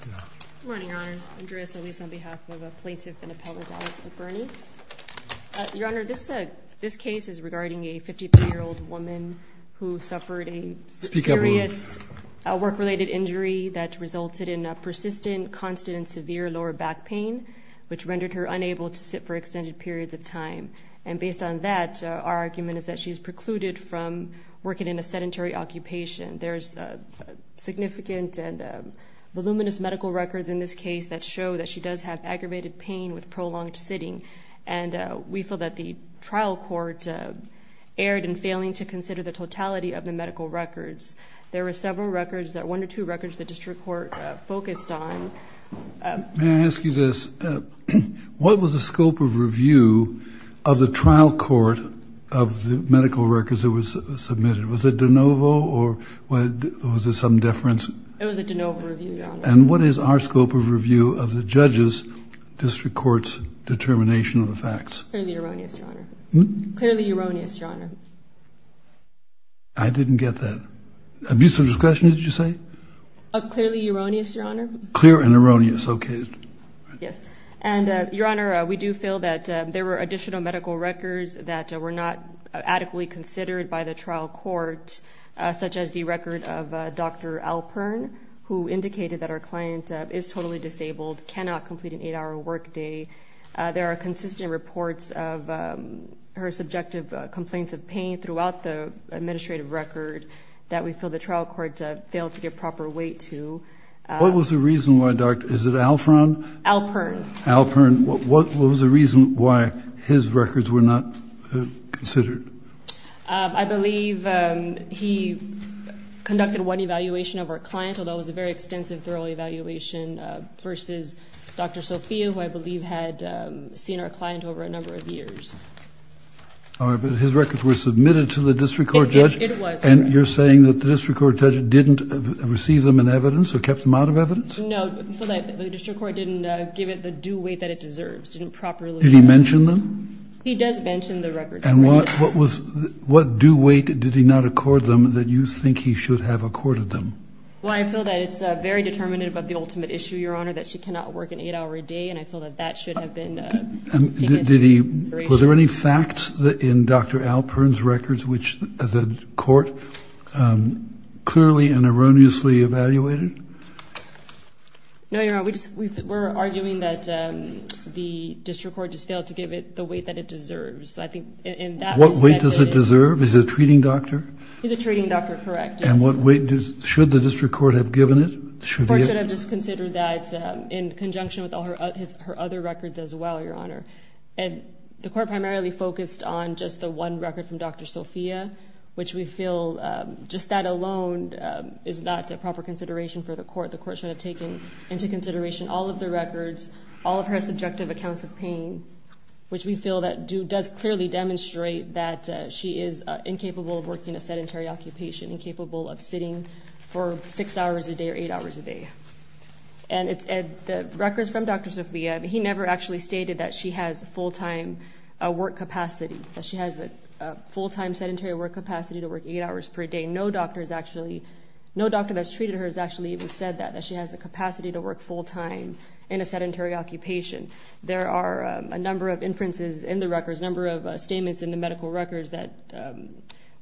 Good morning, Your Honor. Andrea Solis on behalf of a plaintiff and appellate Alex McBurnie. Your Honor, this case is regarding a 53-year-old woman who suffered a serious work-related injury that resulted in a persistent, constant, and severe lower back pain, which rendered her unable to sit for extended periods of time. And based on that, our argument is that she is precluded from working in a sedentary occupation. There's significant and voluminous medical records in this case that show that she does have aggravated pain with prolonged sitting, and we feel that the trial court erred in failing to consider the totality of the medical records. There were several records, one or two records, the district court focused on. May I ask you this? What was the scope of review of the trial court of the medical records that was submitted? Was it de novo or was there some deference? It was a de novo review, Your Honor. And what is our scope of review of the judge's district court's determination of the facts? Clearly erroneous, Your Honor. Hmm? Clearly erroneous, Your Honor. I didn't get that. Abuse of discretion, did you say? Clearly erroneous, Your Honor. Clear and erroneous, okay. Yes, and Your Honor, we do feel that there were additional medical records that were not adequately considered by the trial court, such as the record of Dr. Alpern, who indicated that our client is totally disabled, cannot complete an eight-hour workday. There are consistent reports of her subjective complaints of pain throughout the administrative record that we feel the trial court failed to give proper weight to. Alpern. Considered. I believe he conducted one evaluation of our client, although it was a very extensive, thorough evaluation, versus Dr. Sophia, who I believe had seen our client over a number of years. All right, but his records were submitted to the district court judge. It was. And you're saying that the district court judge didn't receive them in evidence or kept them out of evidence? No, the district court didn't give it the due weight that it deserves. Didn't properly look at it. Did he mention them? He does mention the records. And what do weight did he not accord them that you think he should have accorded them? Well, I feel that it's very determinative of the ultimate issue, Your Honor, that she cannot work an eight-hour a day, and I feel that that should have been taken into consideration. Were there any facts in Dr. Alpern's records which the court clearly and erroneously evaluated? No, Your Honor, we're arguing that the district court just failed to give it the weight that it deserves. What weight does it deserve? Is it a treating doctor? He's a treating doctor, correct. And what weight should the district court have given it? The court should have just considered that in conjunction with all her other records as well, Your Honor. And the court primarily focused on just the one record from Dr. Sophia, which we feel just that alone is not a proper consideration for the court. The court should have taken into consideration all of the records, all of her subjective accounts of pain, which we feel that does clearly demonstrate that she is incapable of working a sedentary occupation, incapable of sitting for six hours a day or eight hours a day. And the records from Dr. Sophia, he never actually stated that she has full-time work capacity, that she has a full-time sedentary work capacity to work eight hours per day. No doctor that's treated her has actually even said that, that she has the capacity to work full-time in a sedentary occupation. There are a number of inferences in the records, a number of statements in the medical records, that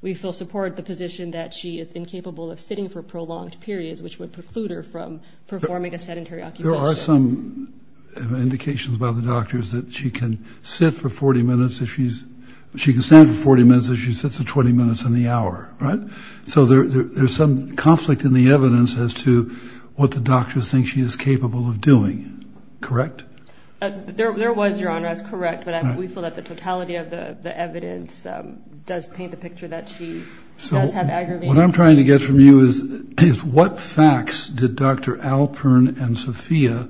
we feel support the position that she is incapable of sitting for prolonged periods, which would preclude her from performing a sedentary occupation. There are some indications by the doctors that she can sit for 40 minutes if she's, she can stand for 40 minutes if she sits for 20 minutes in the hour, right? So there's some conflict in the evidence as to what the doctors think she is capable of doing, correct? There was, Your Honor, that's correct, but we feel that the totality of the evidence does paint the picture that she does have aggravated pain. What I'm trying to get from you is what facts did Dr. Alpern and Sophia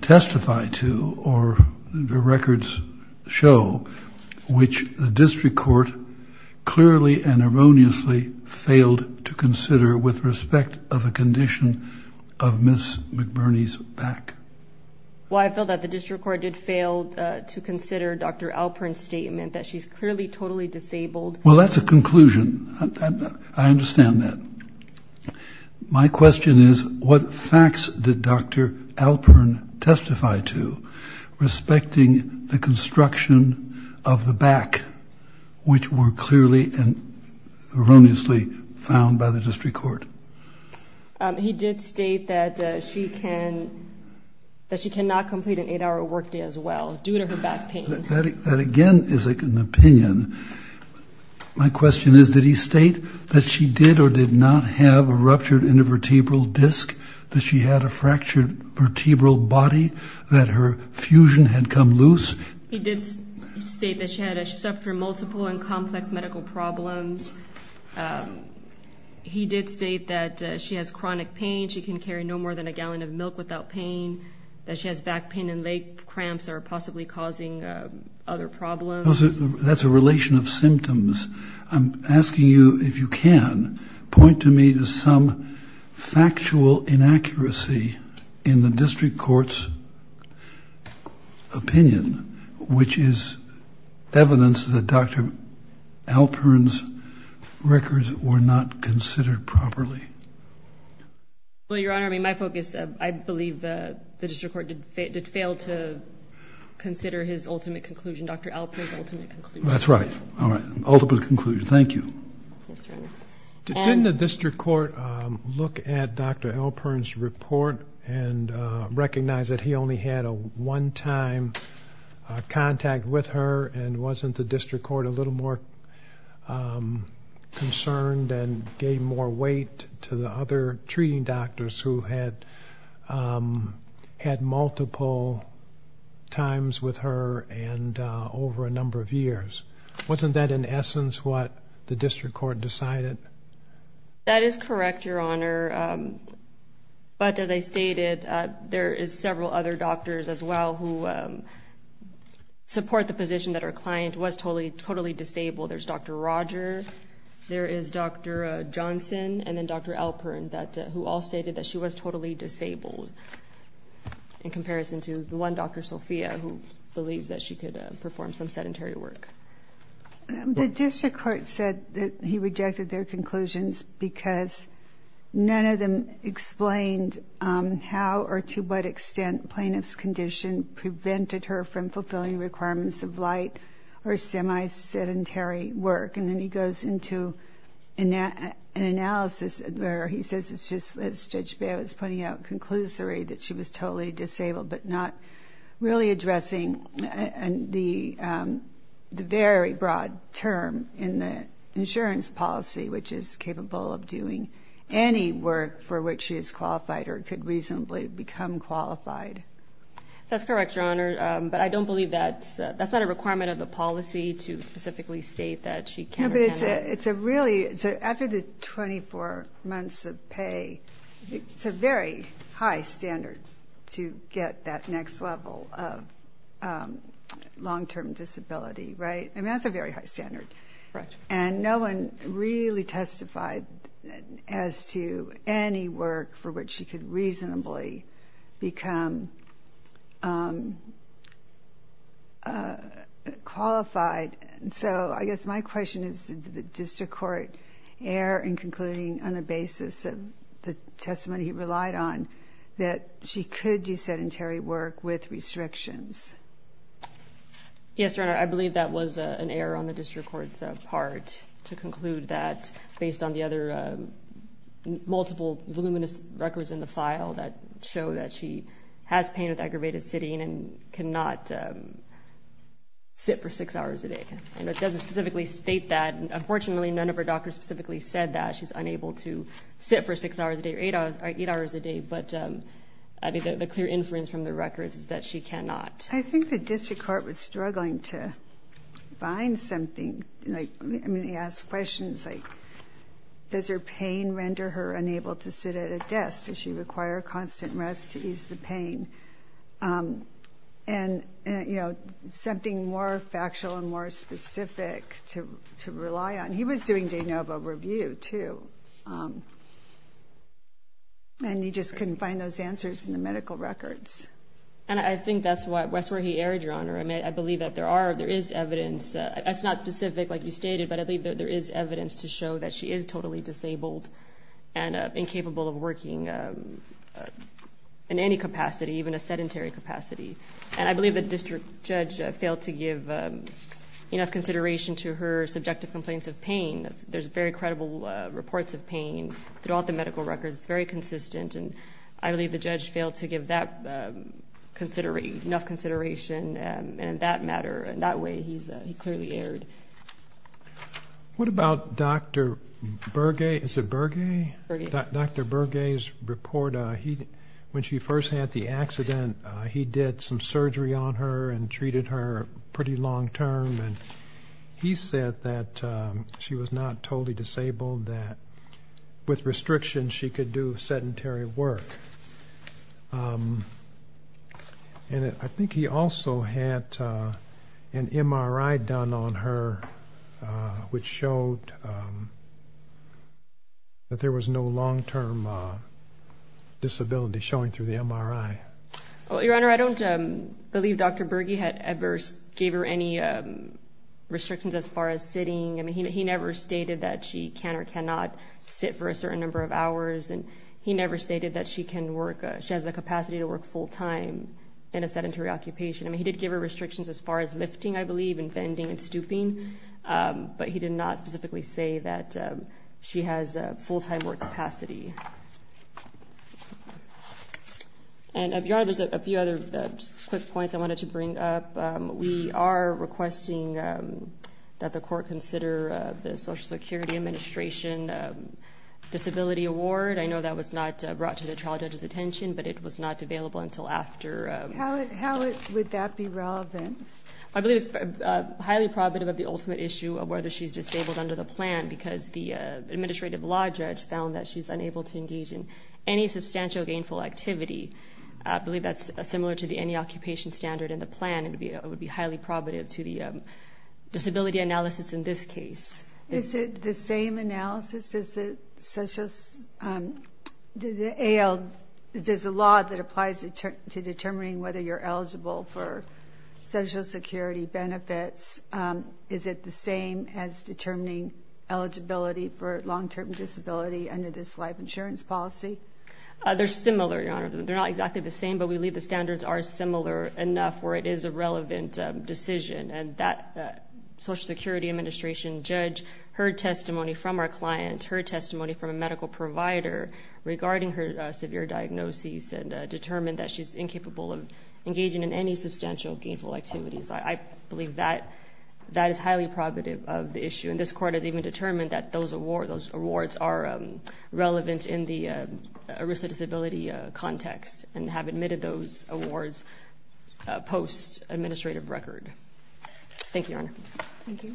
testify to, or the records show, which the district court clearly and erroneously failed to consider with respect of a condition of Ms. McBurney's back? Well, I feel that the district court did fail to consider Dr. Alpern's statement that she's clearly totally disabled. Well, that's a conclusion. I understand that. My question is what facts did Dr. Alpern testify to respecting the construction of the back, which were clearly and erroneously found by the district court? He did state that she cannot complete an eight-hour workday as well due to her back pain. That, again, is an opinion. My question is did he state that she did or did not have a ruptured intervertebral disc, that she had a fractured vertebral body, that her fusion had come loose? He did state that she suffered from multiple and complex medical problems. He did state that she has chronic pain. She can carry no more than a gallon of milk without pain, that she has back pain and leg cramps that are possibly causing other problems. That's a relation of symptoms. I'm asking you, if you can, point to me some factual inaccuracy in the district court's opinion, which is evidence that Dr. Alpern's records were not considered properly. Well, Your Honor, my focus, I believe the district court did fail to consider his ultimate conclusion, Dr. Alpern's ultimate conclusion. That's right. All right. Ultimate conclusion. Thank you. Yes, Your Honor. Didn't the district court look at Dr. Alpern's report and recognize that he only had a one-time contact with her and wasn't the district court a little more concerned and gave more weight to the other treating doctors who had multiple times with her and over a number of years? Wasn't that, in essence, what the district court decided? That is correct, Your Honor. But as I stated, there is several other doctors as well who support the position that her client was totally disabled. There's Dr. Roger, there is Dr. Johnson, and then Dr. Alpern, who all stated that she was totally disabled in comparison to the one Dr. Sofia, who believes that she could perform some sedentary work. The district court said that he rejected their conclusions because none of them explained how or to what extent plaintiff's condition prevented her from fulfilling requirements of light or semi-sedentary work. And then he goes into an analysis where he says it's just, as Judge Baird was pointing out, that she was totally disabled but not really addressing the very broad term in the insurance policy, which is capable of doing any work for which she is qualified or could reasonably become qualified. That's correct, Your Honor. But I don't believe that's not a requirement of the policy to specifically state that she can or cannot. After the 24 months of pay, it's a very high standard to get that next level of long-term disability, right? I mean, that's a very high standard. Correct. And no one really testified as to any work for which she could reasonably become qualified. So I guess my question is, did the district court err in concluding on the basis of the testimony he relied on that she could do sedentary work with restrictions? Yes, Your Honor, I believe that was an error on the district court's part to conclude that based on the other multiple voluminous records in the file that show that she has pain with aggravated sitting and cannot sit for six hours a day. And it doesn't specifically state that. Unfortunately, none of her doctors specifically said that she's unable to sit for six hours a day or eight hours a day. But the clear inference from the records is that she cannot. I think the district court was struggling to find something. I mean, they asked questions like, does her pain render her unable to sit at a desk? Does she require constant rest to ease the pain? And, you know, something more factual and more specific to rely on. He was doing de novo review, too. And he just couldn't find those answers in the medical records. And I think that's where he erred, Your Honor. I mean, I believe that there is evidence. It's not specific, like you stated, but I believe that there is evidence to show that she is totally disabled and incapable of working in any capacity, even a sedentary capacity. And I believe the district judge failed to give enough consideration to her subjective complaints of pain. There's very credible reports of pain throughout the medical records. It's very consistent. And I believe the judge failed to give that enough consideration in that matter. And that way he clearly erred. What about Dr. Berge? Is it Berge? Berge. Dr. Berge's report, when she first had the accident, he did some surgery on her and treated her pretty long term. And he said that she was not totally disabled, that with restrictions she could do sedentary work. And I think he also had an MRI done on her, which showed that there was no long term disability showing through the MRI. Well, Your Honor, I don't believe Dr. Berge had ever gave her any restrictions as far as sitting. I mean, he never stated that she can or cannot sit for a certain number of hours. And he never stated that she has the capacity to work full time in a sedentary occupation. I mean, he did give her restrictions as far as lifting, I believe, and bending and stooping. But he did not specifically say that she has full time work capacity. And, Your Honor, there's a few other quick points I wanted to bring up. We are requesting that the court consider the Social Security Administration Disability Award. I know that was not brought to the trial judge's attention, but it was not available until after. How would that be relevant? I believe it's highly probative of the ultimate issue of whether she's disabled under the plan, because the administrative law judge found that she's unable to engage in any substantial gainful activity. I believe that's similar to the any occupation standard in the plan. It would be highly probative to the disability analysis in this case. Is it the same analysis as the AL? There's a law that applies to determining whether you're eligible for Social Security benefits. Is it the same as determining eligibility for long-term disability under this life insurance policy? They're similar, Your Honor. They're not exactly the same, but we believe the standards are similar enough where it is a relevant decision. And that Social Security Administration judge heard testimony from our client, heard testimony from a medical provider regarding her severe diagnosis, and determined that she's incapable of engaging in any substantial gainful activities. I believe that is highly probative of the issue. And this Court has even determined that those awards are relevant in the risk of disability context and have admitted those awards post-administrative record. Thank you, Your Honor. Thank you.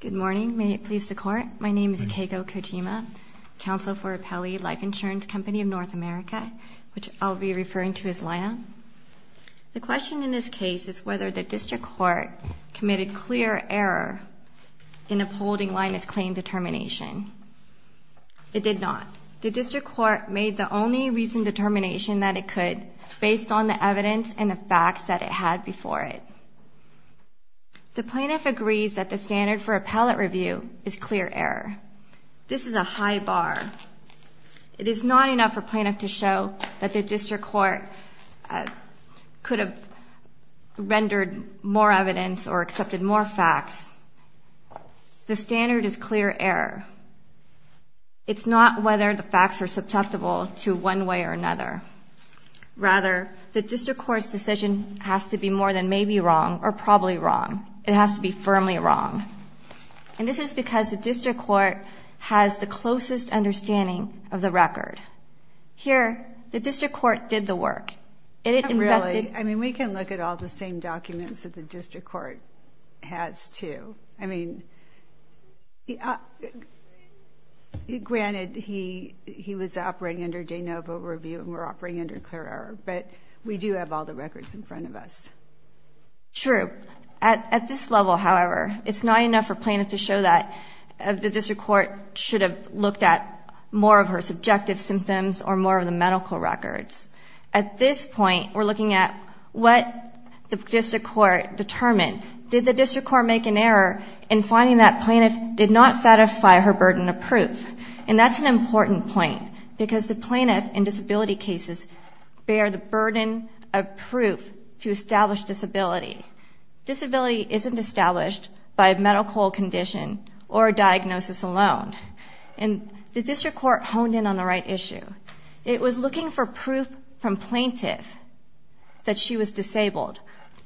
Good morning. May it please the Court. My name is Keiko Kojima, Counsel for Appellee Life Insurance Company of North America, which I'll be referring to as LIA. The question in this case is whether the District Court committed clear error in upholding Linus' claim determination. It did not. The District Court made the only reasoned determination that it could based on the evidence and the facts that it had before it. The plaintiff agrees that the standard for appellate review is clear error. This is a high bar. It is not enough for plaintiff to show that the District Court could have rendered more evidence or accepted more facts. The standard is clear error. It's not whether the facts are susceptible to one way or another. Rather, the District Court's decision has to be more than maybe wrong or probably wrong. It has to be firmly wrong. And this is because the District Court has the closest understanding of the record. Here, the District Court did the work. Not really. I mean, we can look at all the same documents that the District Court has, too. I mean, granted, he was operating under de novo review, and we're operating under clear error. But we do have all the records in front of us. True. At this level, however, it's not enough for plaintiff to show that the District Court should have looked at more of her subjective symptoms or more of the medical records. At this point, we're looking at what the District Court determined. Did the District Court make an error in finding that plaintiff did not satisfy her burden of proof? And that's an important point because the plaintiff in disability cases bear the burden of proof to establish disability. Disability isn't established by medical condition or diagnosis alone. And the District Court honed in on the right issue. It was looking for proof from plaintiff that she was disabled,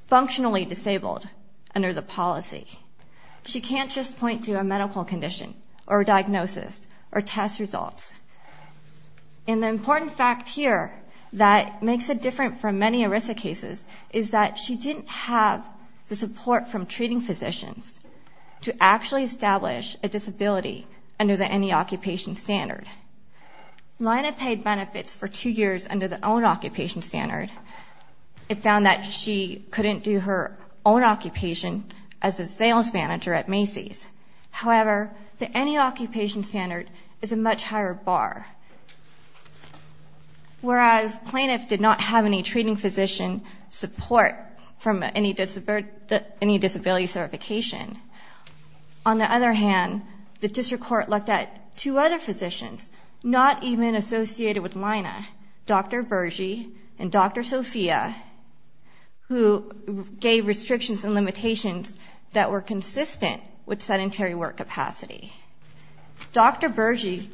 functionally disabled, under the policy. She can't just point to a medical condition or a diagnosis or test results. And the important fact here that makes it different from many ERISA cases is that she didn't have the support from treating physicians to actually establish a disability under the NE occupation standard. Lina paid benefits for two years under the own occupation standard. It found that she couldn't do her own occupation as a sales manager at Macy's. However, the NE occupation standard is a much higher bar. Whereas plaintiff did not have any treating physician support from any disability certification. On the other hand, the District Court looked at two other physicians, not even associated with Lina, Dr. Bergy and Dr. Sophia, who gave restrictions and limitations that were consistent with sedentary work capacity. Dr. Bergy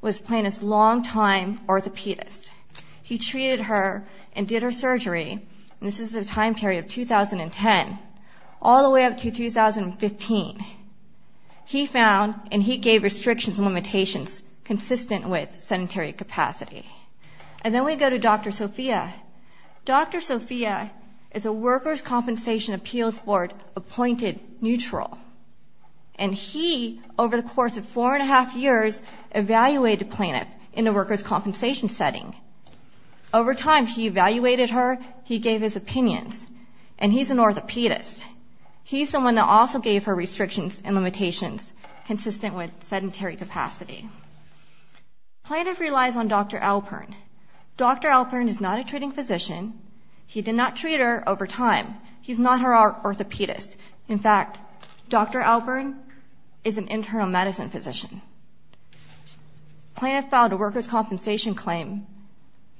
was plaintiff's longtime orthopedist. He treated her and did her surgery, and this is a time period of 2010, all the way up to 2015. He found and he gave restrictions and limitations consistent with sedentary capacity. And then we go to Dr. Sophia. Dr. Sophia is a Workers' Compensation Appeals Board appointed neutral. And he, over the course of four and a half years, evaluated the plaintiff in the workers' compensation setting. Over time, he evaluated her, he gave his opinions, and he's an orthopedist. He's someone that also gave her restrictions and limitations consistent with sedentary capacity. Plaintiff relies on Dr. Alpern. Dr. Alpern is not a treating physician. He did not treat her over time. He's not her orthopedist. In fact, Dr. Alpern is an internal medicine physician. Plaintiff filed a workers' compensation claim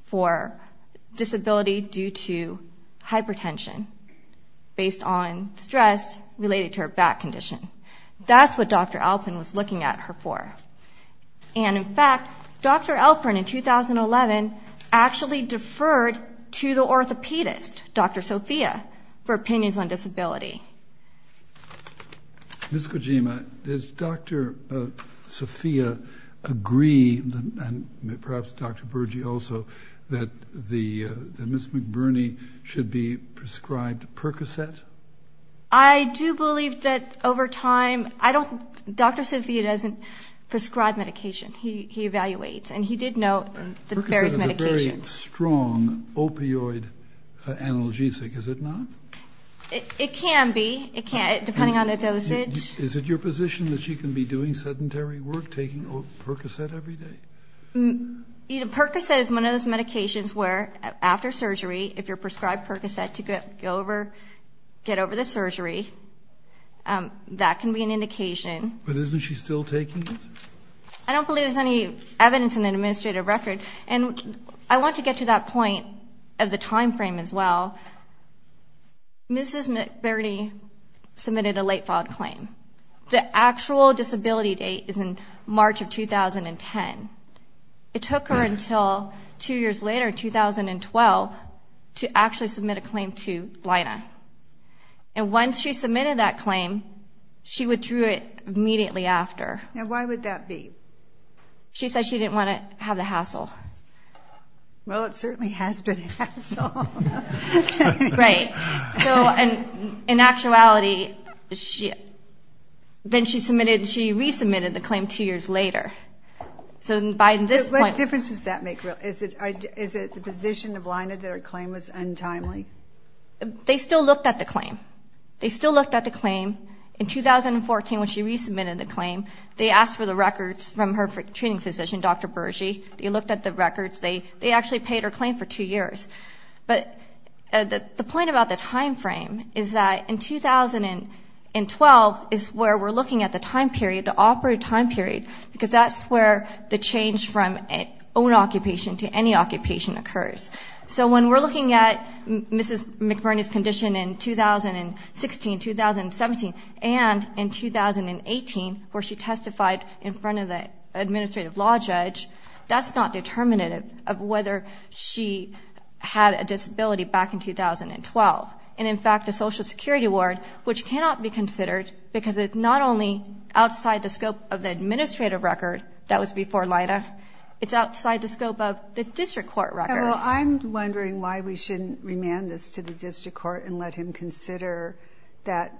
for disability due to hypertension based on stress related to her back condition. That's what Dr. Alpern was looking at her for. And, in fact, Dr. Alpern, in 2011, actually deferred to the orthopedist, Dr. Sophia, for opinions on disability. Ms. Kojima, does Dr. Sophia agree, and perhaps Dr. Burgi also, that Ms. McBurney should be prescribed Percocet? I do believe that over time, I don't, Dr. Sophia doesn't prescribe medication. He evaluates, and he did note the various medications. Percocet is a very strong opioid analgesic, is it not? It can be. It can, depending on the dosage. Is it your position that she can be doing sedentary work, taking Percocet every day? Percocet is one of those medications where, after surgery, if you're prescribed Percocet to get over the surgery, that can be an indication. But isn't she still taking it? I don't believe there's any evidence in the administrative record. And I want to get to that point of the timeframe as well. Mrs. McBurney submitted a late-filed claim. The actual disability date is in March of 2010. It took her until two years later, 2012, to actually submit a claim to Lina. And once she submitted that claim, she withdrew it immediately after. Now, why would that be? She said she didn't want to have the hassle. Well, it certainly has been a hassle. Right. So in actuality, then she resubmitted the claim two years later. So by this point ñ What difference does that make? Is it the position of Lina that her claim was untimely? They still looked at the claim. They still looked at the claim. In 2014, when she resubmitted the claim, they asked for the records from her treating physician, Dr. Berge. They looked at the records. They actually paid her claim for two years. But the point about the time frame is that in 2012 is where we're looking at the time period, the operative time period, because that's where the change from own occupation to any occupation occurs. So when we're looking at Mrs. McBurney's condition in 2016, 2017, and in 2018, where she testified in front of the administrative law judge, that's not determinative of whether she had a disability back in 2012. And, in fact, the Social Security Award, which cannot be considered because it's not only outside the scope of the administrative record that was before Lina, it's outside the scope of the district court record. Well, I'm wondering why we shouldn't remand this to the district court and let him consider that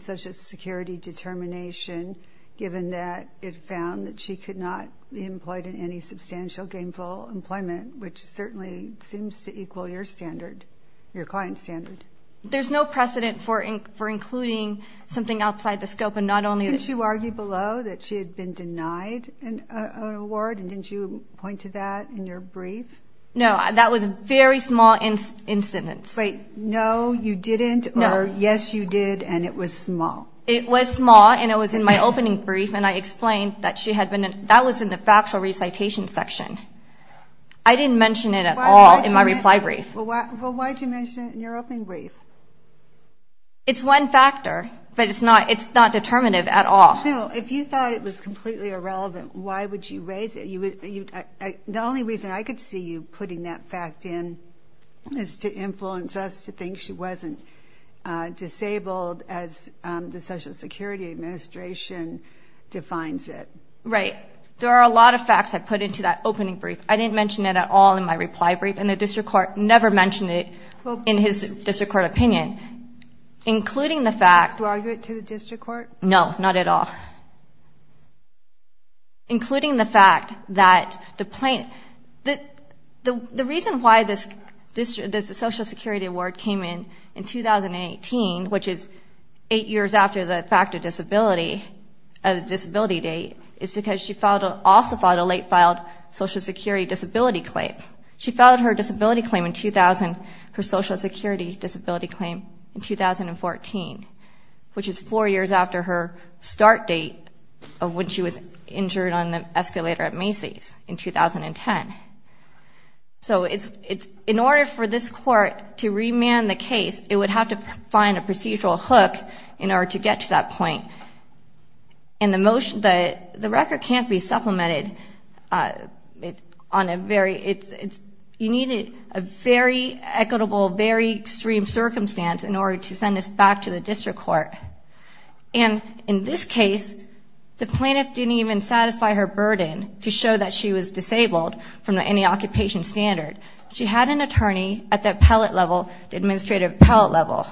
Social Security determination, given that it found that she could not be employed in any substantial gainful employment, which certainly seems to equal your standard, your client's standard. There's no precedent for including something outside the scope, and not only the- Didn't you argue below that she had been denied an award, and didn't you point to that in your brief? No, that was a very small incidence. Wait, no, you didn't, or yes, you did, and it was small? It was small, and it was in my opening brief, and I explained that she had been- that was in the factual recitation section. I didn't mention it at all in my reply brief. Well, why did you mention it in your opening brief? It's one factor, but it's not determinative at all. No, if you thought it was completely irrelevant, why would you raise it? The only reason I could see you putting that fact in is to influence us to think she wasn't disabled as the Social Security Administration defines it. Right. There are a lot of facts I put into that opening brief. I didn't mention it at all in my reply brief, and the district court never mentioned it in his district court opinion, including the fact- Did you argue it to the district court? No, not at all. Including the fact that the plaintiff- The reason why this Social Security award came in in 2018, which is eight years after the fact of disability, of the disability date, is because she also filed a late-filed Social Security disability claim. She filed her disability claim in 2000, her Social Security disability claim in 2014, which is four years after her start date of when she was injured on the escalator at Macy's in 2010. So in order for this court to remand the case, it would have to find a procedural hook in order to get to that point. And the motion- The record can't be supplemented on a very- And in this case, the plaintiff didn't even satisfy her burden to show that she was disabled from any occupation standard. She had an attorney at the appellate level, the administrative appellate level.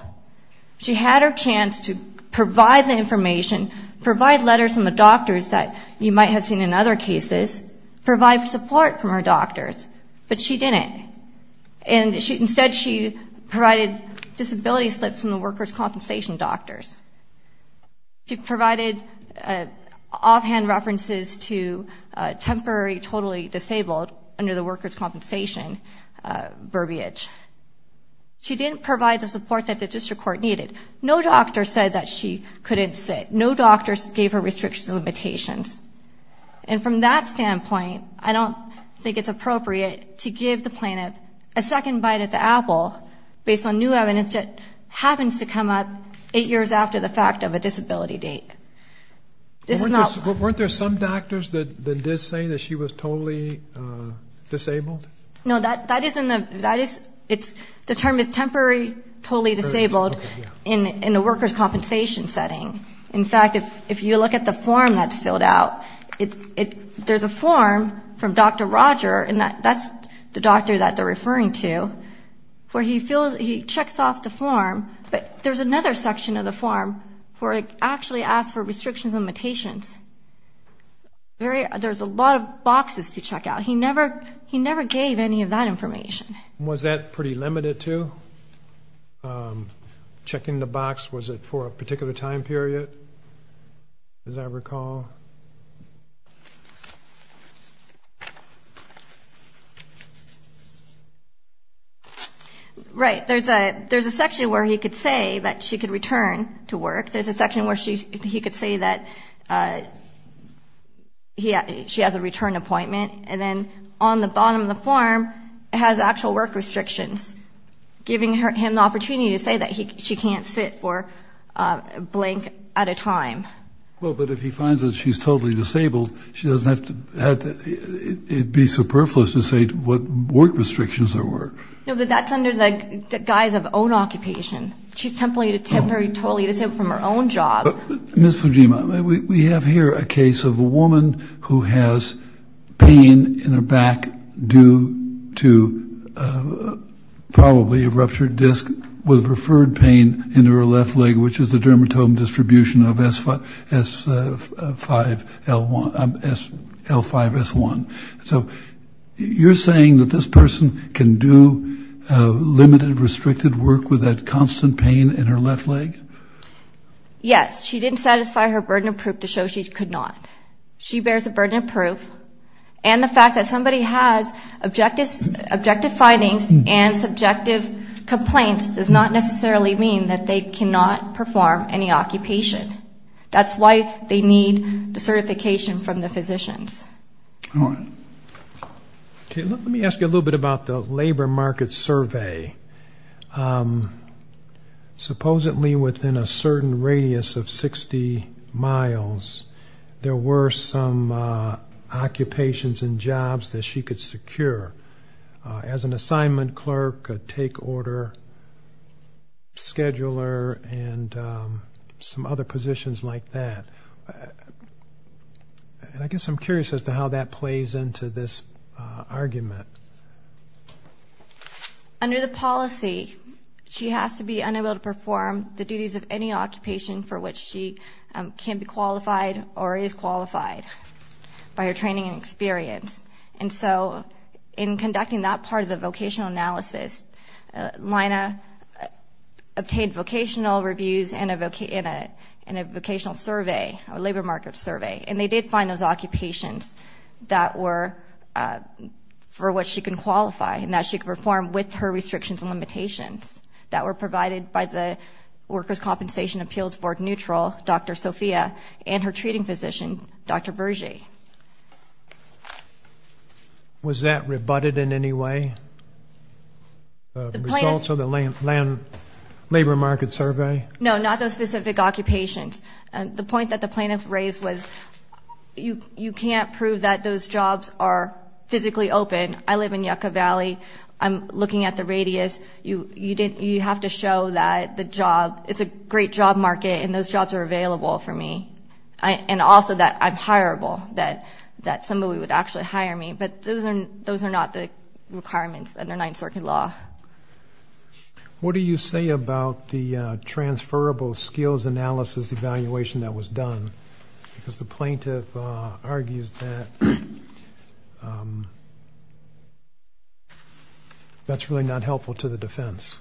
She had her chance to provide the information, provide letters from the doctors that you might have seen in other cases, provide support from her doctors, but she didn't. And instead, she provided disability slips from the workers' compensation doctors. She provided offhand references to temporary, totally disabled under the workers' compensation verbiage. She didn't provide the support that the district court needed. No doctor said that she couldn't sit. No doctor gave her restrictions or limitations. And from that standpoint, I don't think it's appropriate to give the plaintiff a second bite at the apple based on new evidence that happens to come up eight years after the fact of a disability date. This is not- Weren't there some doctors that did say that she was totally disabled? No, that isn't the- That is- The term is temporary, totally disabled in the workers' compensation setting. In fact, if you look at the form that's filled out, there's a form from Dr. Roger, and that's the doctor that they're referring to, where he checks off the form, but there's another section of the form where it actually asks for restrictions and limitations. There's a lot of boxes to check out. He never gave any of that information. Was that pretty limited to? Checking the box, was it for a particular time period, as I recall? Right. There's a section where he could say that she could return to work. There's a section where he could say that she has a return appointment, and then on the bottom of the form, it has actual work restrictions, giving him the opportunity to say that she can't sit for a blank at a time. Well, but if he finds that she's totally disabled, it would be superfluous to say what work restrictions there were. No, but that's under the guise of own occupation. She's temporarily totally disabled from her own job. Ms. Fujima, we have here a case of a woman who has pain in her back due to probably a ruptured disc with referred pain in her left leg, which is the dermatome distribution of S5L1, L5S1. So you're saying that this person can do limited, restricted work with that constant pain in her left leg? Yes. She didn't satisfy her burden of proof to show she could not. She bears a burden of proof, and the fact that somebody has objective findings and subjective complaints does not necessarily mean that they cannot perform any occupation. That's why they need the certification from the physicians. All right. Okay, let me ask you a little bit about the labor market survey. Supposedly, within a certain radius of 60 miles, there were some occupations and jobs that she could secure as an assignment clerk, a take-order scheduler, and some other positions like that. And I guess I'm curious as to how that plays into this argument. Under the policy, she has to be unable to perform the duties of any occupation for which she can be qualified or is qualified by her training and experience. And so in conducting that part of the vocational analysis, Lina obtained vocational reviews in a vocational survey, a labor market survey, and they did find those occupations that were for which she can qualify and that she could perform with her restrictions and limitations that were provided by the Workers' Compensation Appeals Board neutral, Dr. Sofia, and her treating physician, Dr. Berge. Was that rebutted in any way? The results of the labor market survey? No, not those specific occupations. The point that the plaintiff raised was you can't prove that those jobs are physically open. I live in Yucca Valley. I'm looking at the radius. You have to show that it's a great job market and those jobs are available for me, and also that I'm hireable, that somebody would actually hire me. But those are not the requirements under Ninth Circuit law. What do you say about the transferable skills analysis evaluation that was done? Because the plaintiff argues that that's really not helpful to the defense.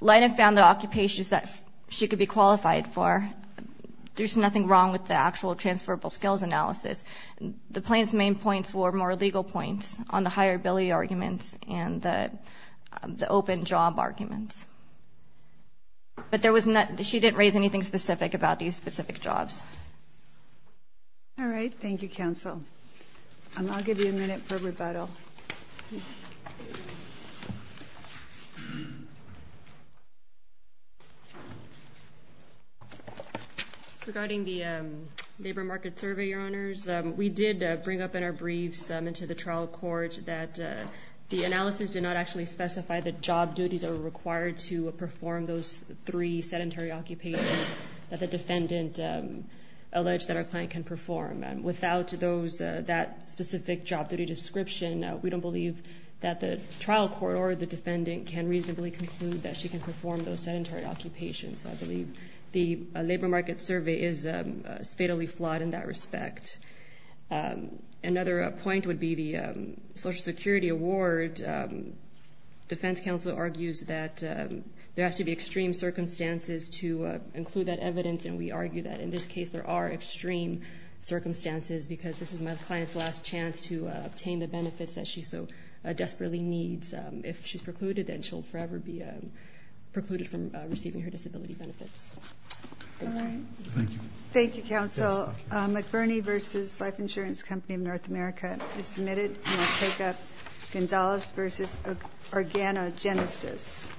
Lina found the occupations that she could be qualified for. There's nothing wrong with the actual transferable skills analysis. The plaintiff's main points were more legal points on the hireability arguments and the open job arguments. But she didn't raise anything specific about these specific jobs. All right. Thank you, counsel. I'll give you a minute for rebuttal. Thank you. Regarding the labor market survey, Your Honors, we did bring up in our briefs into the trial court that the analysis did not actually specify that job duties are required to perform those three sedentary occupations that the defendant alleged that our client can perform. Without that specific job duty description, we don't believe that the trial court or the defendant can reasonably conclude that she can perform those sedentary occupations. So I believe the labor market survey is fatally flawed in that respect. Another point would be the Social Security Award. Defense counsel argues that there has to be extreme circumstances to include that evidence, and we argue that in this case there are extreme circumstances because this is my client's last chance to obtain the benefits that she so desperately needs. If she's precluded, then she'll forever be precluded from receiving her disability benefits. All right. Thank you. Thank you, counsel. McBurney v. Life Insurance Company of North America is submitted, and I'll take up Gonzales v. Organogenesis.